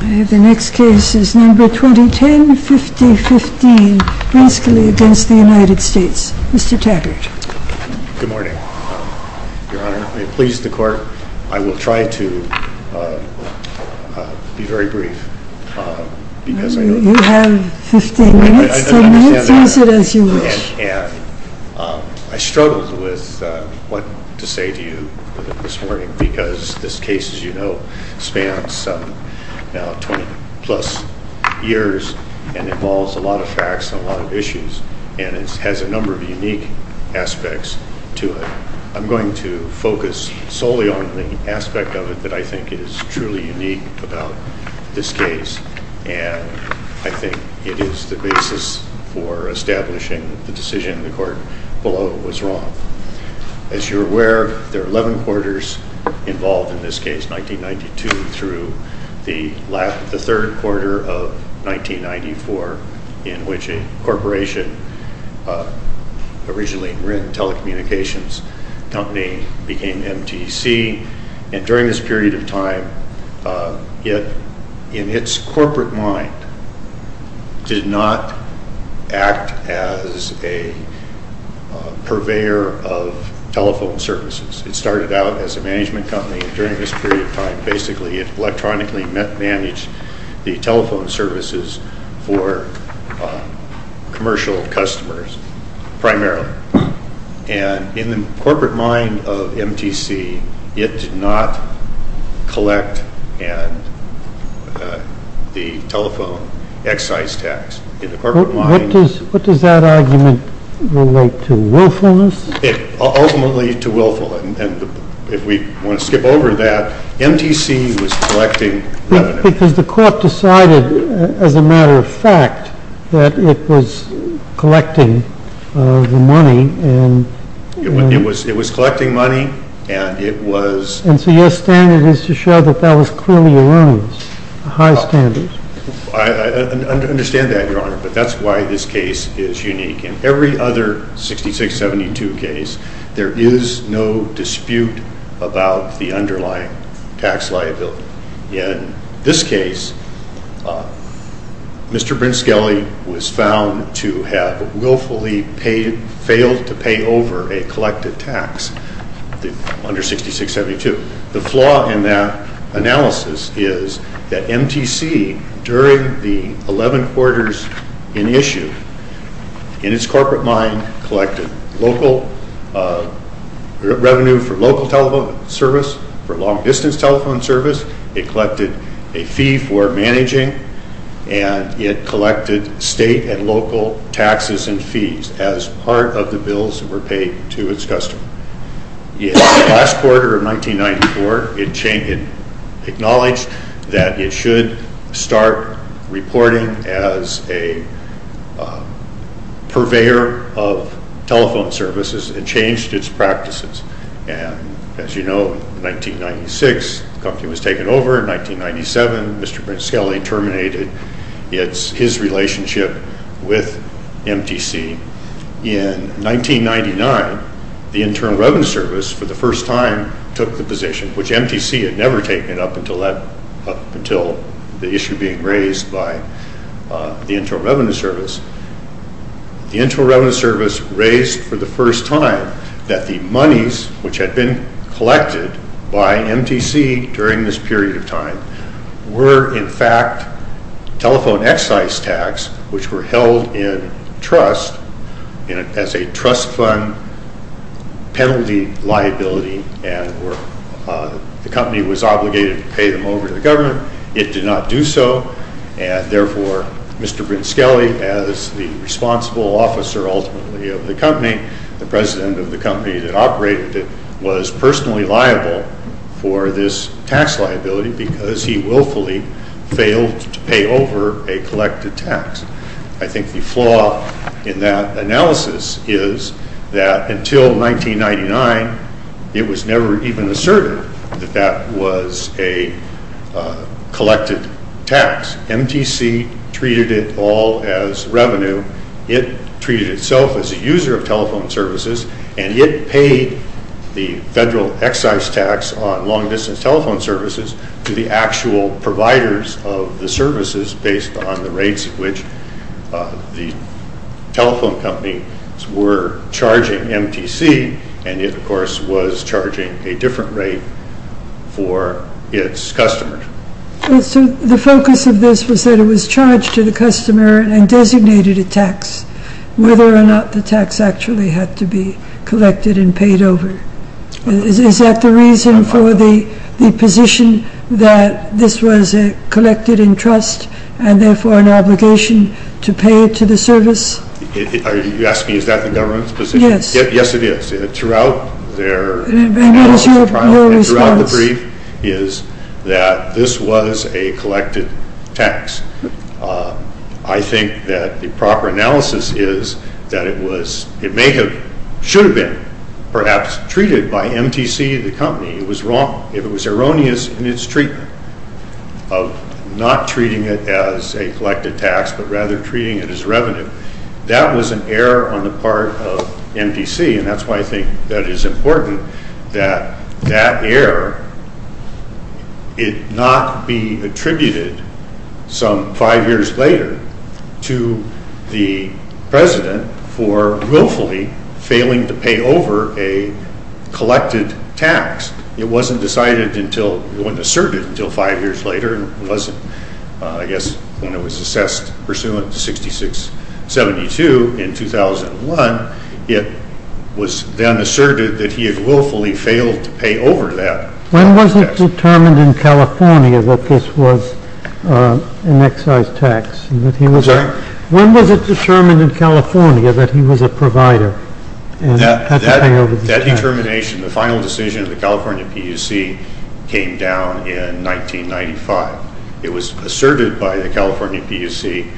The next case is number 2010, 50-15, Brinskele v. United States. Mr. Taggart. Good morning, Your Honor. I please the Court. I will try to be very brief, because I know that— You have 15 minutes, so use it as you wish. And I struggled with what to say to you this morning, because this case, as you know, spans now 20-plus years and involves a lot of facts and a lot of issues, and it has a number of unique aspects to it. I'm going to focus solely on the aspect of it that I think is truly unique about this case, and I think it is the basis for establishing the decision the Court below was wrong. As you're aware, there are 11 quarters involved in this case, 1992 through the third quarter of 1994, in which a corporation, originally a telecommunications company, became MTC. And during this period of time, it, in its corporate mind, did not act as a purveyor of telephone services. It started out as a management company, and during this period of time, basically, it electronically managed the telephone services for commercial customers, primarily. And in the corporate mind of MTC, it did not collect the telephone excise tax. In the corporate mind... What does that argument relate to? Willfulness? Ultimately, to willfulness. And if we want to skip over that, MTC was collecting revenue. Because the Court decided, as a matter of fact, that it was collecting the money and... It was collecting money, and it was... And so your standard is to show that that was clearly erroneous, a high standard. I understand that, Your Honor, but that's why this case is unique. In every other 6672 case, there is no dispute about the underlying tax liability. In this case, Mr. Brinskelly was found to have willfully failed to pay over a collected tax under 6672. The flaw in that analysis is that MTC, during the 11 quarters in issue, in its corporate mind, collected local revenue for local telephone service, for long-distance telephone service. It collected a fee for managing, and it collected state and local taxes and fees as part of the bills that were paid to its customer. In the last quarter of 1994, it acknowledged that it should start reporting as a purveyor of telephone services, and changed its practices. And, as you know, in 1996, the company was taken over. In 1997, Mr. Brinskelly terminated his relationship with MTC. In 1999, the Internal Revenue Service, for the first time, took the position, which MTC had never taken up until the issue being raised by the Internal Revenue Service. The Internal Revenue Service raised, for the first time, that the monies which had been collected by MTC during this period of time were, in fact, telephone excise tax, which were held in trust as a trust fund penalty liability, and the company was obligated to pay them over to the government. It did not do so, and, therefore, Mr. Brinskelly, as the responsible officer, ultimately, of the company, the president of the company that operated it, was personally liable for this tax liability because he willfully failed to pay over a collected tax. I think the flaw in that analysis is that, until 1999, it was never even asserted that that was a collected tax. MTC treated it all as revenue. It treated itself as a user of telephone services, and it paid the federal excise tax on long-distance telephone services to the actual providers of the services based on the rates at which the telephone companies were charging MTC, and it, of course, was charging a different rate for its customers. The focus of this was that it was charged to the customer and designated a tax, whether or not the tax actually had to be collected and paid over. Is that the reason for the position that this was a collected in trust and, therefore, an obligation to pay to the service? Are you asking, is that the government's position? Yes. Yes, it is. Throughout their trial, and throughout the brief, is that this was a collected tax. I think that the proper analysis is that it may have, should have been, perhaps, treated by MTC, the company. It was wrong. If it was erroneous in its treatment of not treating it as a collected tax, but rather treating it as revenue, that was an error on the part of MTC, and that's why I think that it is important that that error it not be attributed some five years later to the president for willfully failing to pay over a collected tax. It wasn't decided until, it wasn't asserted until five years later. It wasn't, I guess, when it was assessed pursuant to 6672 in 2001, it was then asserted that he had willfully failed to pay over that. When was it determined in California that this was an excise tax? I'm sorry? When was it determined in California that he was a provider? That determination, the final decision of the California PUC, came down in 1995. It was asserted by the California PUC.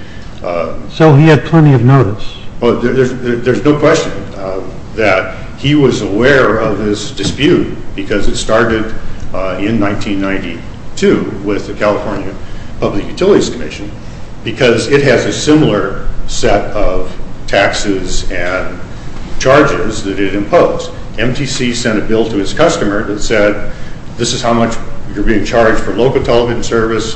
So he had plenty of notice? Well, there's no question that he was aware of this dispute, because it started in 1992 with the California Public Utilities Commission, because it has a similar set of taxes and charges that it imposed. MTC sent a bill to its customer that said, this is how much you're being charged for local television service.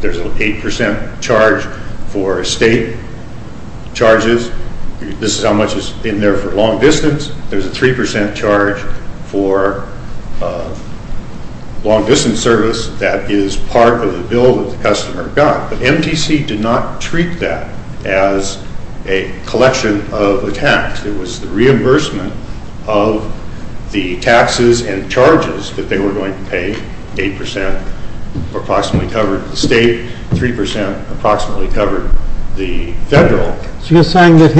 There's an 8% charge for state charges. This is how much is in there for long distance. There's a 3% charge for long distance service. That is part of the bill that the customer got. But MTC did not treat that as a collection of the tax. It was the reimbursement of the taxes and charges that they were going to pay. 8% approximately covered the state. 3% approximately covered the federal. So you're saying that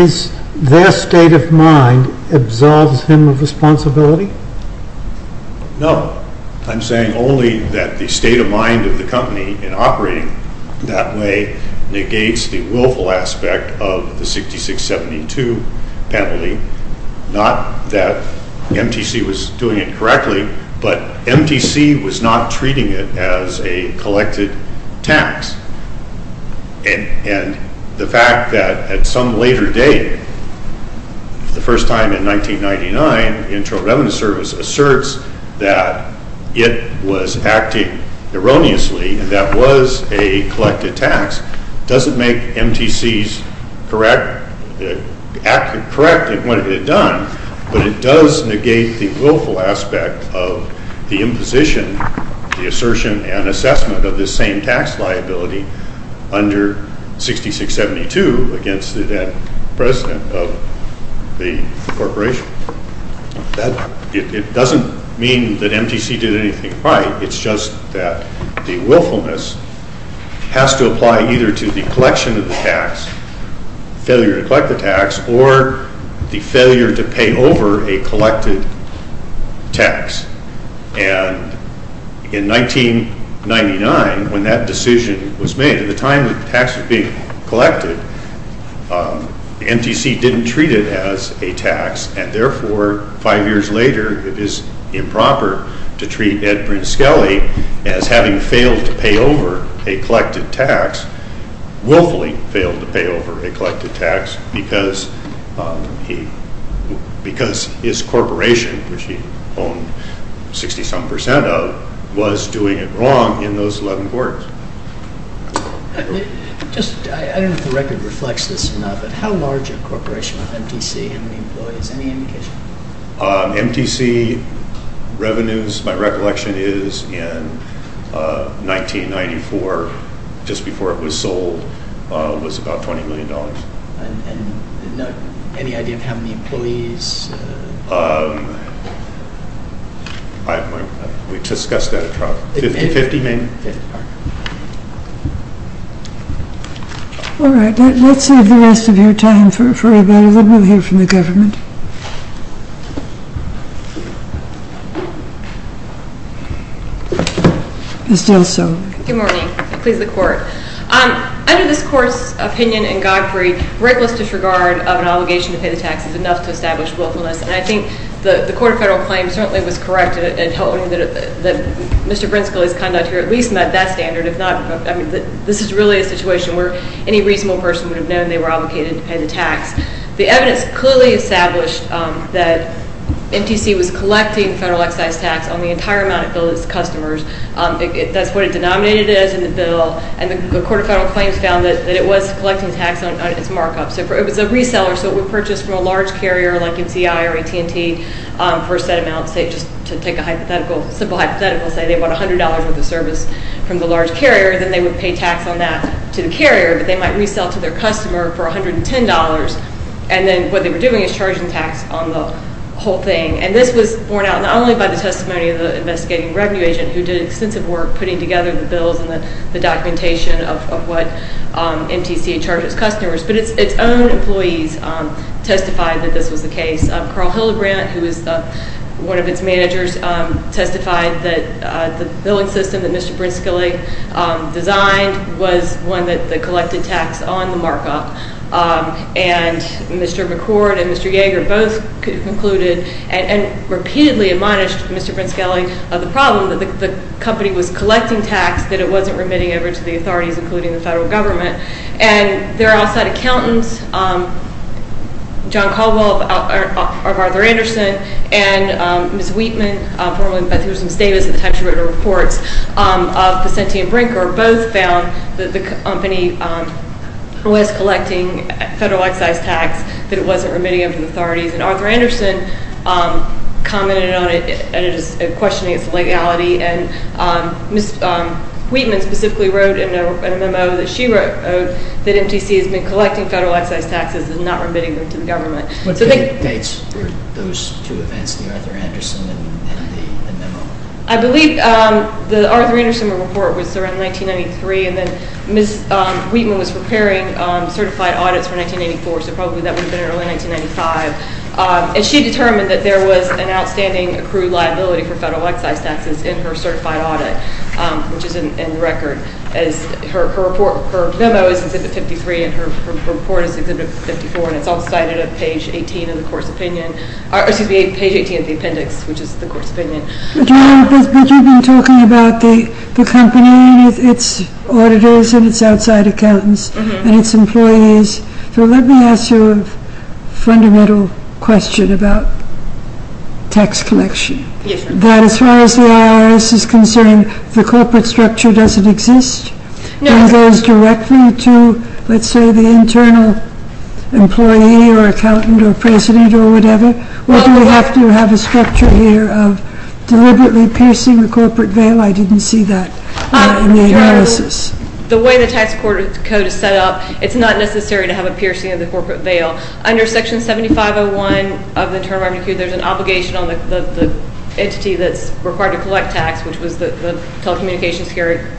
their state of mind absolves him of responsibility? No. I'm saying only that the state of mind of the company in operating that way negates the willful aspect of the 6672 penalty. Not that MTC was doing it correctly, but MTC was not treating it as a collected tax. And the fact that at some later date, the first time in 1999, the Internal Revenue Service asserts that it was acting erroneously and that was a collected tax. Doesn't make MTC's correct, correct in what it had done, but it does negate the willful aspect of the imposition, the assertion and the same tax liability under 6672 against the then president of the corporation. It doesn't mean that MTC did anything right. It's just that the willfulness has to apply either to the collection of the tax, failure to collect the tax, or the failure to pay over a collected tax. And in 1999, when that decision was made, at the time the tax was being collected, MTC didn't treat it as a tax. And therefore, five years later, it is improper to treat Ed Brinskelly as having failed to pay over a collected tax, willfully failed to pay over a collected tax because his corporation, which he owned 60-some percent of, was doing it wrong in those 11 quarters. Just, I don't know if the record reflects this or not, but how large a corporation of MTC, how many employees, any indication? MTC revenues, my recollection is in 1994, just before it was sold, was about $20 million. And any idea of how many employees? I have my, we discussed that at trial, 50, maybe? 50, all right. All right, let's save the rest of your time for a minute, and then we'll hear from the government. Ms. Dilsow. Good morning. Please, the court. Under this court's opinion in Godfrey, reckless disregard of an obligation to pay the tax is enough to establish willfulness. And I think the court of federal claims certainly was correct in holding that Mr. Brinskelly's conduct here at least met that standard. If not, I mean, this is really a situation where any reasonable person would have known they were obligated to pay the tax. The evidence clearly established that MTC was collecting federal excise tax on the entire amount it billed its customers. That's what it denominated as in the bill, and the court of federal claims found that it was collecting tax on its markup. So it was a reseller, so it would purchase from a large carrier like MCI or AT&T for a set amount. Say, just to take a hypothetical, simple hypothetical, say they want $100 worth of service from the large carrier, then they would pay tax on that to the carrier, but they might resell to their customer for $110. And then what they were doing is charging tax on the whole thing. And this was borne out not only by the testimony of the investigating revenue agent, who did extensive work putting together the bills and the documentation of what MTC charges customers. But its own employees testified that this was the case. Carl Hildebrandt, who is one of its managers, testified that the billing system that Mr. Brinskelly designed was one that collected tax on the markup. And Mr. McCord and Mr. Yeager both concluded and repeatedly admonished Mr. Brinskelly of the problem that the company was collecting tax that it wasn't remitting over to the authorities, including the federal government. And their outside accountants, John Caldwell of Arthur Anderson and Ms. Wheatman, formerly Beth Hewson Davis at the time she wrote her reports, of Vicente and Brinker, both found that the company was collecting federal excise tax that it wasn't remitting over to the authorities. And Arthur Anderson commented on it and is questioning its legality. And Ms. Wheatman specifically wrote in a memo that she wrote that MTC has been collecting federal excise taxes and not remitting them to the government. So they- What dates were those two events, the Arthur Anderson and the memo? I believe the Arthur Anderson report was around 1993, and then Ms. Wheatman was preparing certified audits for 1984, so probably that would have been early 1995. And she determined that there was an outstanding accrued liability for federal excise taxes in her certified audit, which is in the record. As her memo is Exhibit 53 and her report is Exhibit 54, and it's all cited at page 18 of the appendix, which is the court's opinion. But you've been talking about the company and its auditors and its outside accountants and its employees. So let me ask you a fundamental question about tax collection. That as far as the IRS is concerned, the corporate structure doesn't exist? It goes directly to, let's say, the internal employee or accountant or president or whatever? Or do we have to have a structure here of deliberately piercing the corporate veil? I didn't see that in the analysis. The way the tax code is set up, it's not necessary to have a piercing of the corporate veil. Under Section 7501 of the Internal Revenue Code, there's an obligation on the entity that's required to collect tax, which was the telecommunications carrier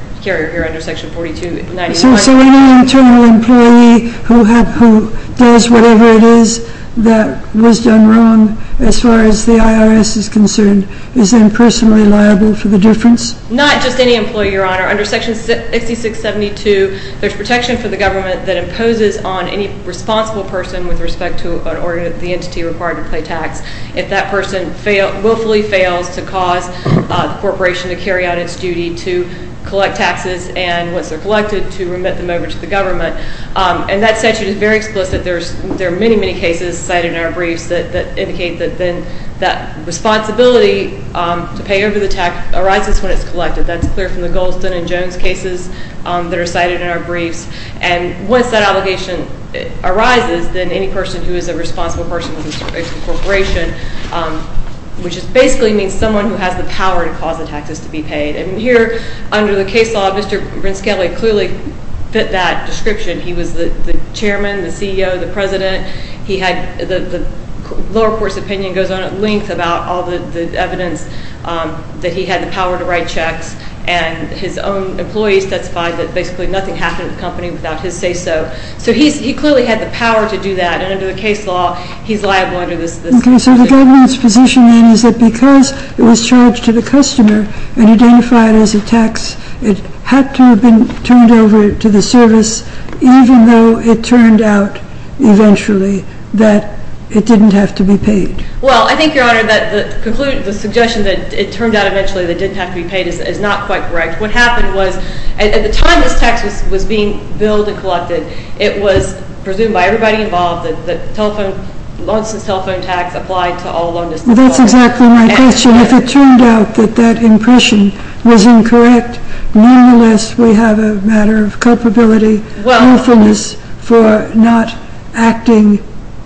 here under Section 4291. So any internal employee who does whatever it is that was done wrong, as far as the IRS is concerned, is then personally liable for the difference? Not just any employee, Your Honor. Under Section 6672, there's protection for the government that imposes on any responsible person with respect to the entity required to pay tax. If that person willfully fails to cause the corporation to carry out its duty to collect taxes and once they're collected, to remit them over to the government, and that statute is very explicit. There are many, many cases cited in our briefs that indicate that then that waiver of the tax arises when it's collected. That's clear from the Goldston and Jones cases that are cited in our briefs. And once that obligation arises, then any person who is a responsible person with respect to the corporation, which basically means someone who has the power to cause the taxes to be paid. And here, under the case law, Mr. Brinskelly clearly fit that description. He was the chairman, the CEO, the president. He had, the lower court's opinion goes on at length about all the evidence that he had the power to write checks. And his own employees testified that basically nothing happened to the company without his say so. So he clearly had the power to do that, and under the case law, he's liable under this- Okay, so the government's position then is that because it was charged to the customer and it didn't have to be paid. Well, I think, Your Honor, that the conclusion, the suggestion that it turned out eventually that it didn't have to be paid is not quite correct. What happened was, at the time this tax was being billed and collected, it was presumed by everybody involved that the telephone, the long-since telephone tax applied to all loneliness- That's exactly my question. If it turned out that that impression was incorrect, nonetheless, we have a matter of culpability, lawfulness for not acting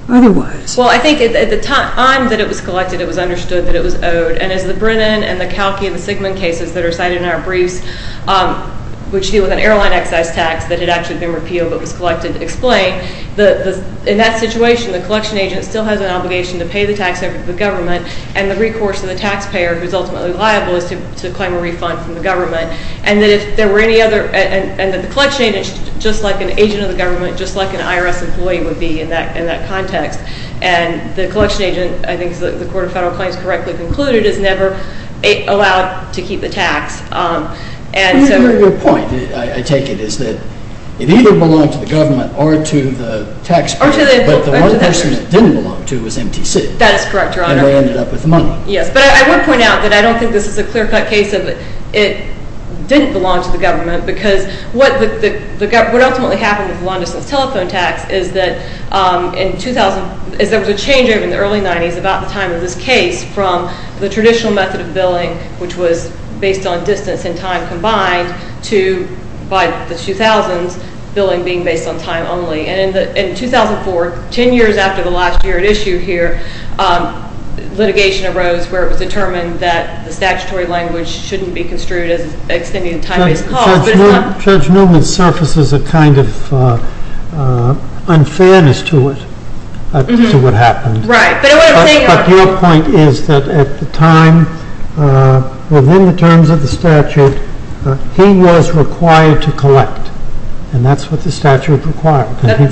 otherwise. Well, I think at the time that it was collected, it was understood that it was owed. And as the Brennan and the Kalki and the Sigmund cases that are cited in our briefs, which deal with an airline excess tax that had actually been repealed but was collected, explain, in that situation, the collection agent still has an obligation to pay the tax over to the government, and the recourse of the taxpayer, who's ultimately liable, is to claim a refund from the government. And that if there were any other, and that the collection agent, just like an agent of the government, just like an IRS employee would be in that context. And the collection agent, I think the Court of Federal Claims correctly concluded, is never allowed to keep the tax. And so- Your point, I take it, is that it either belonged to the government or to the taxpayer, but the one person it didn't belong to was MTC. That is correct, Your Honor. And they ended up with the money. Yes, but I would point out that I don't think this is a clear-cut case of it didn't belong to the government, because what ultimately happened with the Long Distance Telephone Tax is that in 2000, is there was a change in the early 90s, about the time of this case, from the traditional method of billing, which was based on distance and time combined, to by the 2000s, billing being based on time only. And in 2004, 10 years after the last year at issue here, litigation arose where it was determined that the statutory language shouldn't be construed as extending a time-based cost. Judge Newman surfaces a kind of unfairness to it, to what happened. Right, but what I'm saying- But your point is that at the time, within the terms of the statute, he was required to collect. And that's what the statute required.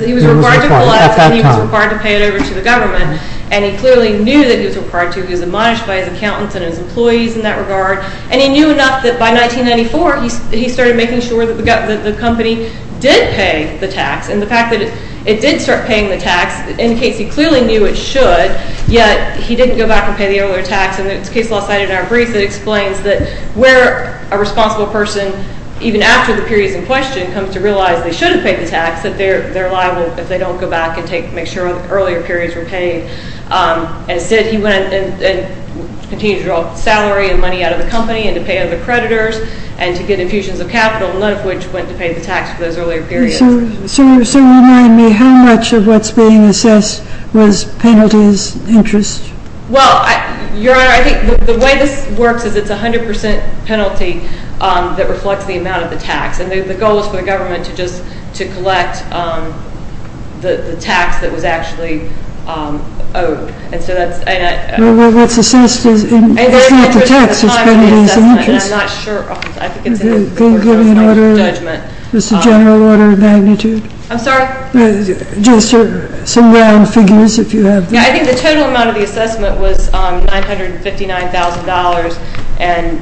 He was required to collect, and he was required to pay it over to the government. And he clearly knew that he was required to. He was admonished by his accountants and his employees in that regard. And he knew enough that by 1994, he started making sure that the company did pay the tax. And the fact that it did start paying the tax indicates he clearly knew it should, yet he didn't go back and pay the earlier tax. And the case law cited in our brief that explains that where a responsible person, even after the period is in question, comes to realize they should have paid the tax, that they're liable if they don't go back and make sure earlier periods were paid. And instead, he went and continued to draw salary and money out of the company, and to pay other creditors, and to get infusions of capital, none of which went to pay the tax for those earlier periods. So remind me, how much of what's being assessed was penalties, interest? Well, Your Honor, I think the way this works is it's a 100% penalty that reflects the amount of the tax. And the goal is for the government to just collect the tax that was actually owed. And so that's... Well, what's assessed is not the tax. I'm not sure. Can you give me an order of magnitude? Just some round figures, if you have them. Yeah, I think the total amount of the assessment was $959,000. And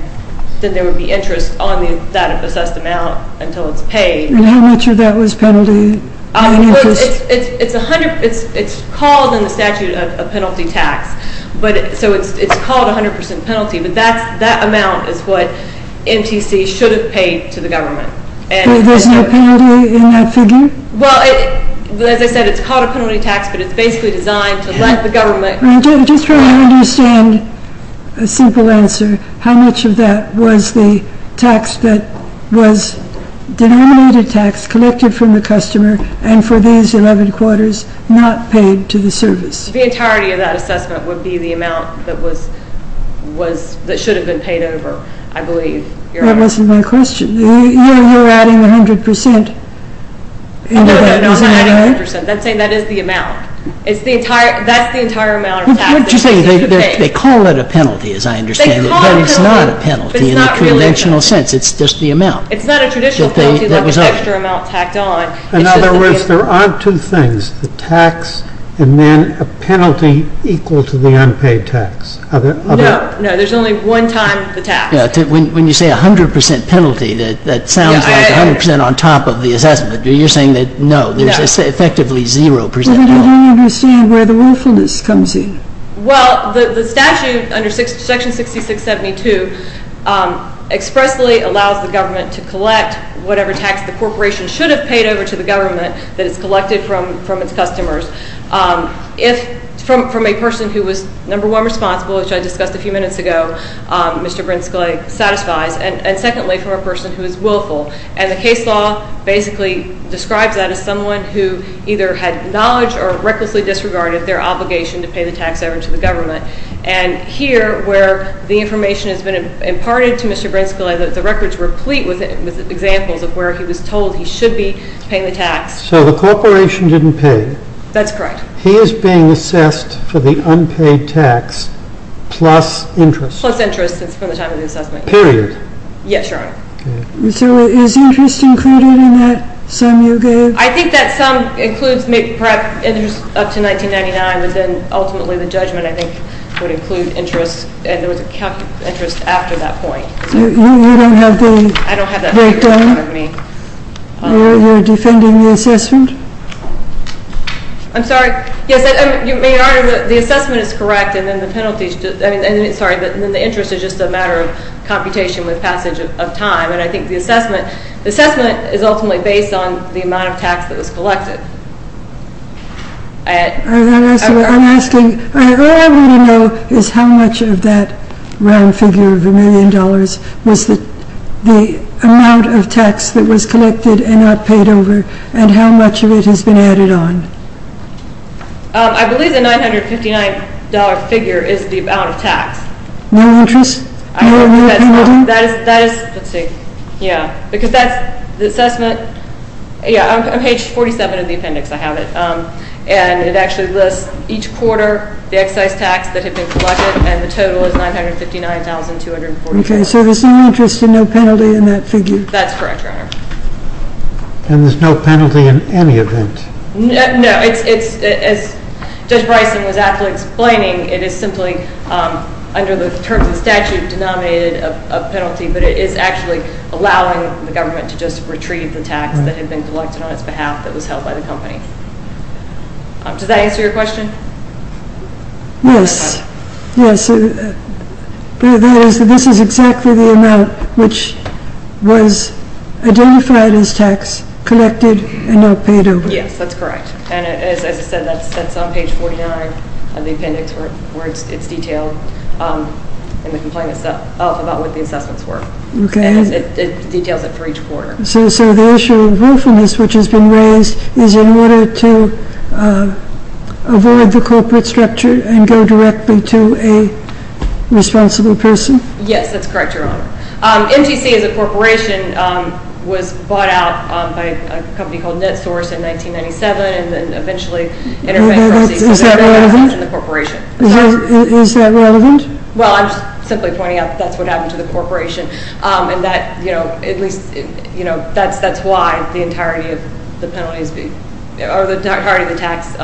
then there would be interest on that assessed amount until it's paid. And how much of that was penalty? It's called in the statute a penalty tax. So it's called a 100% penalty, but that amount is what MTC should have paid to the government. There's no penalty in that figure? Well, as I said, it's called a penalty tax, but it's basically designed to let the government... Just so I understand a simple answer, how much of that was the tax that was denominated tax collected from the customer and for these 11 quarters not paid to the service? The entirety of that assessment would be the amount that should have been paid over, I believe. That wasn't my question. You're adding 100%. No, I'm not adding 100%. I'm saying that is the amount. That's the entire amount of tax that should be paid. They call it a penalty, as I understand it, but it's not a penalty in a conventional sense. It's just the amount. It's not a traditional penalty like an extra amount tacked on. In other words, there are two things, the tax and then a penalty equal to the unpaid tax. No, there's only one time the tax. When you say 100% penalty, that sounds like 100% on top of the assessment. You're saying that no, there's effectively 0%. I don't understand where the willfulness comes in. Well, the statute under Section 6672 expressly allows the government to collect whatever tax the corporation should have paid over to the government that is collected from its customers. If from a person who was number one responsible, which I discussed a few minutes ago, Mr. Brinsky satisfies, and secondly from a person who is willful. The case law basically describes that as someone who either had knowledge or recklessly disregarded their obligation to pay the tax over to the government. Here, where the information has been imparted to Mr. Brinsky, the records were complete with examples of where he was told he should be paying the tax. So the corporation didn't pay. That's correct. He is being assessed for the unpaid tax plus interest. Plus interest from the time of the assessment. Period. Yes, Your Honor. So is interest included in that sum you gave? I think that sum includes interest up to 1999, but then ultimately the judgment I think would include interest and there was a calculated interest after that point. You don't have the breakdown? I don't have that period in front of me. You're defending the assessment? I'm sorry. Yes, Your Honor, the assessment is correct, and then the interest is just a matter of computation with passage of time. And I think the assessment is ultimately based on the amount of tax that was collected. I'm asking, all I want to know is how much of that round figure of a million dollars was the amount of tax that was collected and not paid over and how much of it has been added on? I believe the $959 figure is the amount of tax. No interest? Let's see. Yeah, because that's the assessment. Yeah, on page 47 of the appendix I have it. And it actually lists each quarter the excise tax that had been collected and the total is $959,244. Okay, so there's no interest and no penalty in that figure? That's correct, Your Honor. And there's no penalty in any event? No. As Judge Bryson was aptly explaining, it is simply under the terms of statute denominated a penalty, but it is actually allowing the government to just retrieve the tax that had been collected on its behalf that was held by the company. Does that answer your question? Yes. Yes. But this is exactly the amount which was identified as tax, collected, and not paid over. Yes, that's correct. And as I said, that's on page 49 of the appendix where it's detailed in the complainant's self about what the assessments were. Okay. And it details it for each quarter. So the issue of willfulness which has been raised is in order to avoid the corporate structure and go directly to a responsible person? Yes, that's correct, Your Honor. MTC as a corporation was bought out by a company called NetSource in 1997 and then eventually intervened. Is that relevant? Is that relevant? Well, I'm simply pointing out that's what happened to the corporation and that, you know, at least, you know, that's why the entirety of the penalty is being, or the entirety of the tax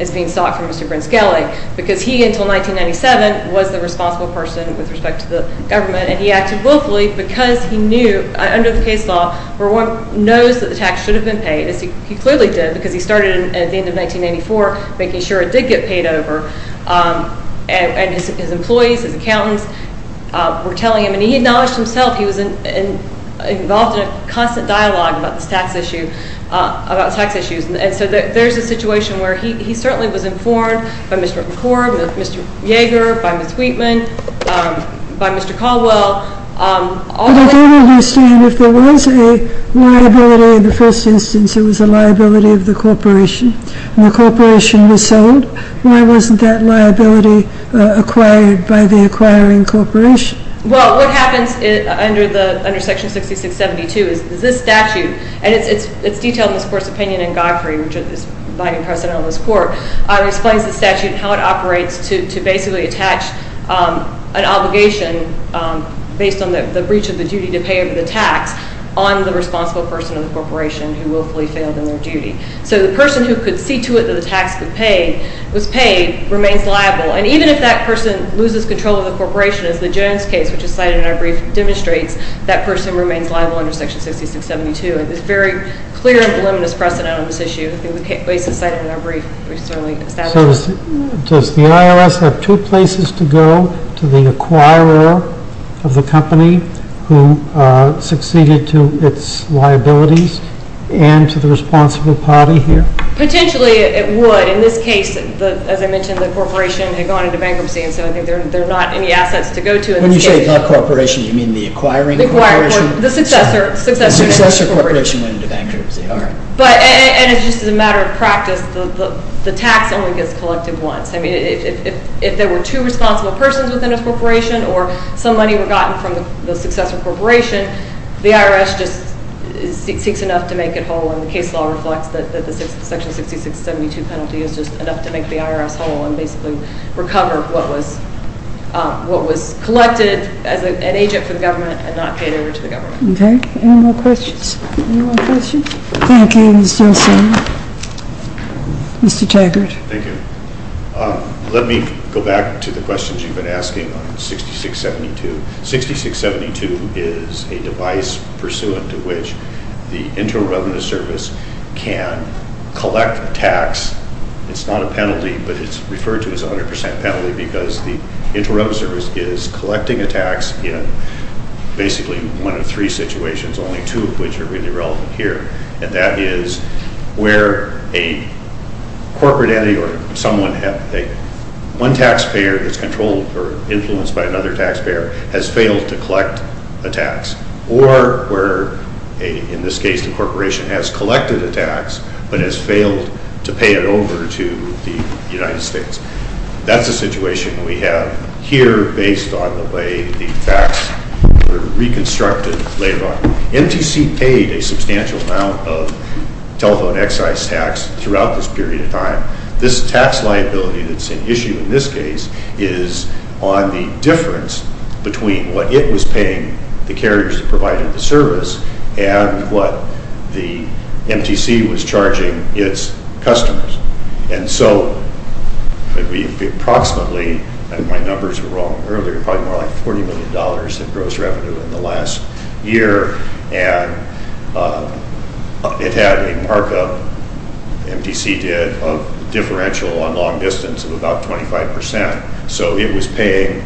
is being sought from Mr. Grinscally because he, until 1997, was the responsible person with respect to the government and he acted willfully because he knew, under the case law, where one knows that the tax should have been paid, as he clearly did because he started at the end of 1984 making sure it did get paid over. And his employees, his accountants, were telling him and he acknowledged himself he was involved in a constant dialogue about this tax issue, about tax issues. And so there's a situation where he certainly was informed by Mr. McCord, by Mr. Yeager, by Ms. Wheatman, by Mr. Caldwell. But I don't understand. If there was a liability in the first instance, it was a liability of the corporation, and the corporation was sold, why wasn't that liability acquired by the acquiring corporation? Well, what happens under Section 6672 is this statute and it's detailed in this Court's opinion in Godfrey, which is the Vice President of this Court, explains the statute and how it operates to basically attach an obligation based on the breach of the duty to pay over the tax on the responsible person of the corporation who willfully failed in their duty. So the person who could see to it that the tax was paid remains liable, and even if that person loses control of the corporation, as the Jones case, which is cited in our brief, demonstrates, that person remains liable under Section 6672. And there's very clear and voluminous precedent on this issue that's cited in our brief. So does the IRS have two places to go to the acquirer of the company who succeeded to its liabilities and to the responsible party here? Potentially it would. In this case, as I mentioned, the corporation had gone into bankruptcy and so I think there are not any assets to go to. When you say the corporation, you mean the acquiring corporation? The successor. The successor corporation went into bankruptcy. And it's just a matter of practice. The tax only gets collected once. If there were two responsible persons within a corporation or some money were gotten from the successor corporation, the IRS just seeks enough to make it whole. And the case law reflects that the Section 6672 penalty is just enough to make the IRS whole and basically recover what was collected as an agent for the government and not paid over to the government. Any more questions? Thank you, Ms. Johnson. Mr. Taggart. Thank you. Let me go back to the questions you've been asking on 6672. 6672 is a device pursuant to which the Internal Revenue Service can collect a tax. It's not a penalty, but it's referred to as a 100% penalty because the Internal Revenue Service is collecting a tax in basically one of three situations, only two of which are really relevant here. And that is where a corporate entity or someone one taxpayer that's controlled or influenced by another taxpayer has failed to collect a tax. Or where in this case the corporation has collected a tax but has failed to pay it over to the United States. That's a situation we have here based on the way the tax were reconstructed later on. MTC paid a substantial amount of telephone excise tax throughout this period of time. This tax liability that's an issue in this case is on the difference between what it was paying the carriers that provided the service and what the MTC was charging its customers. And so approximately and my numbers were wrong earlier probably more like 40 million dollars in gross revenue in the last year and it had a markup MTC did of differential on long distance of about 25%. So it was paying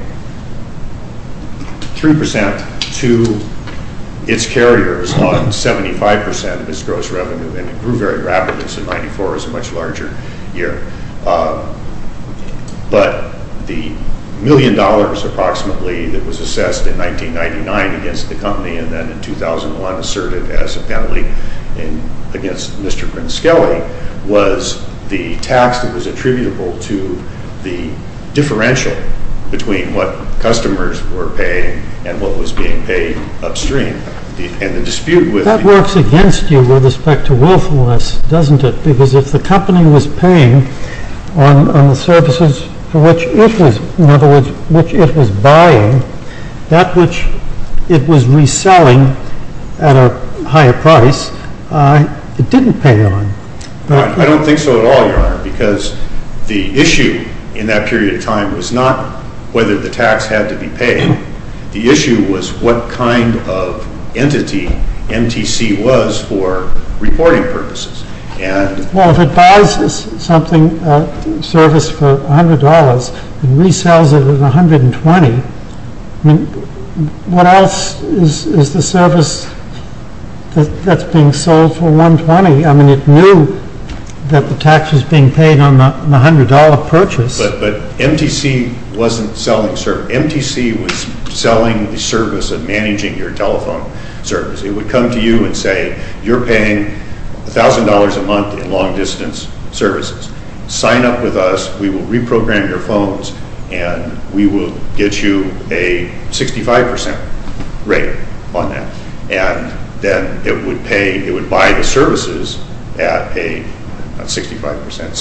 3% to its carriers on 75% of its gross revenue and it grew very rapidly so 94 is a much larger year. But the million dollars approximately that was assessed in 1999 against the company and then in 2001 asserted as a penalty against Mr. Grinskelly was the tax that was attributable to the differential between what customers were paying and what was being paid upstream. That works against you with respect to willfulness doesn't it? Because if the company was paying on the services for which it was buying that which it was reselling at a higher price it didn't pay on. I don't think so at all because the issue in that period of time was not whether the tax had to be paid the issue was what kind of entity MTC was for reporting purposes. Well if it buys a service for $100 and resells it at $120 what else is the service that's being sold for $120? I mean it knew that the tax was being paid on the $100 purchase. But MTC wasn't selling the service MTC was selling the service of managing your telephone service It would come to you and say you're paying $1000 a month in long distance services sign up with us we will reprogram your phones and we will get you a 65% rate on that and then it would buy the services at a 75%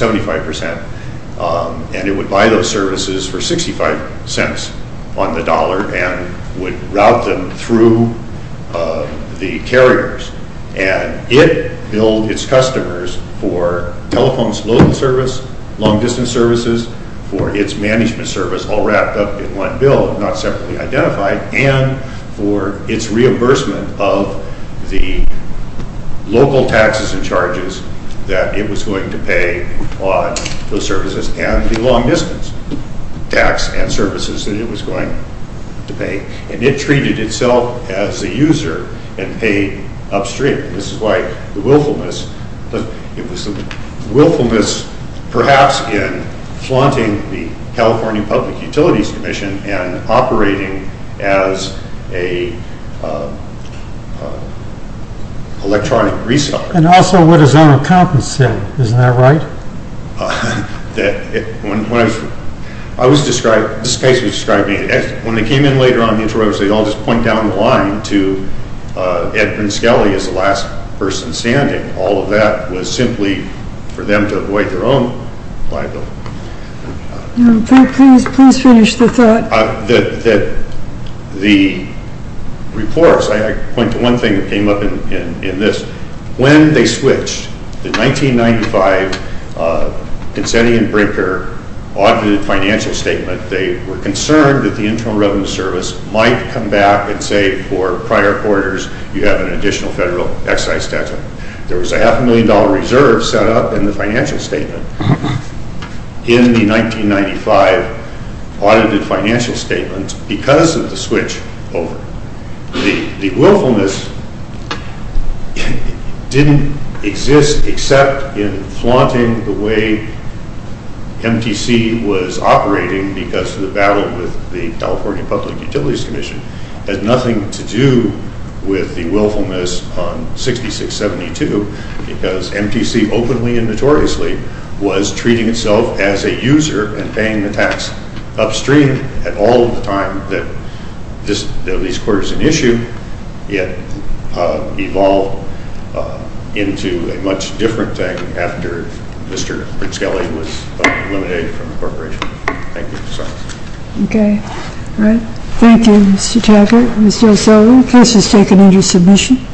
and it would buy those services for $0.65 on the dollar and would route them through the carriers and it billed its customers for telephones local service long distance services for its management service all wrapped up in one bill not separately identified and for its reimbursement of the local taxes and charges that it was going to pay on those services and the long distance tax and services that it was going to pay and it treated itself as a user and paid upstream. This is why the willfulness perhaps in flaunting the California Public Utilities Commission and operating as a electronic reseller. And also what his own accountants said, isn't that right? When I was described when they came in later on they all just point down the line to Edman Skelly as the last person standing all of that was simply for them to avoid their own liability. Please finish the thought. The reports, I point to one thing that came up in this when they switched the 1995 Consetti and Brinker audited financial statement they were concerned that the Internal Revenue Service might come back and say for prior quarters you have an additional federal excise statute. There was a half a million dollar reserve set up in the financial statement in the 1995 audited financial statement because of the switch over. The willfulness didn't exist except in flaunting the way MTC was operating because of the battle with the California Public Utilities Commission had nothing to do with the willfulness on 6672 because MTC openly and notoriously was treating itself as a user and paying the tax upstream at all the time that these quarters in issue evolved into a much different thing after Mr. Prince-Kelly was eliminated from the corporation. Thank you. Okay. Thank you Mr. Tackett. Mr. O'Sullivan, case is taken under submission.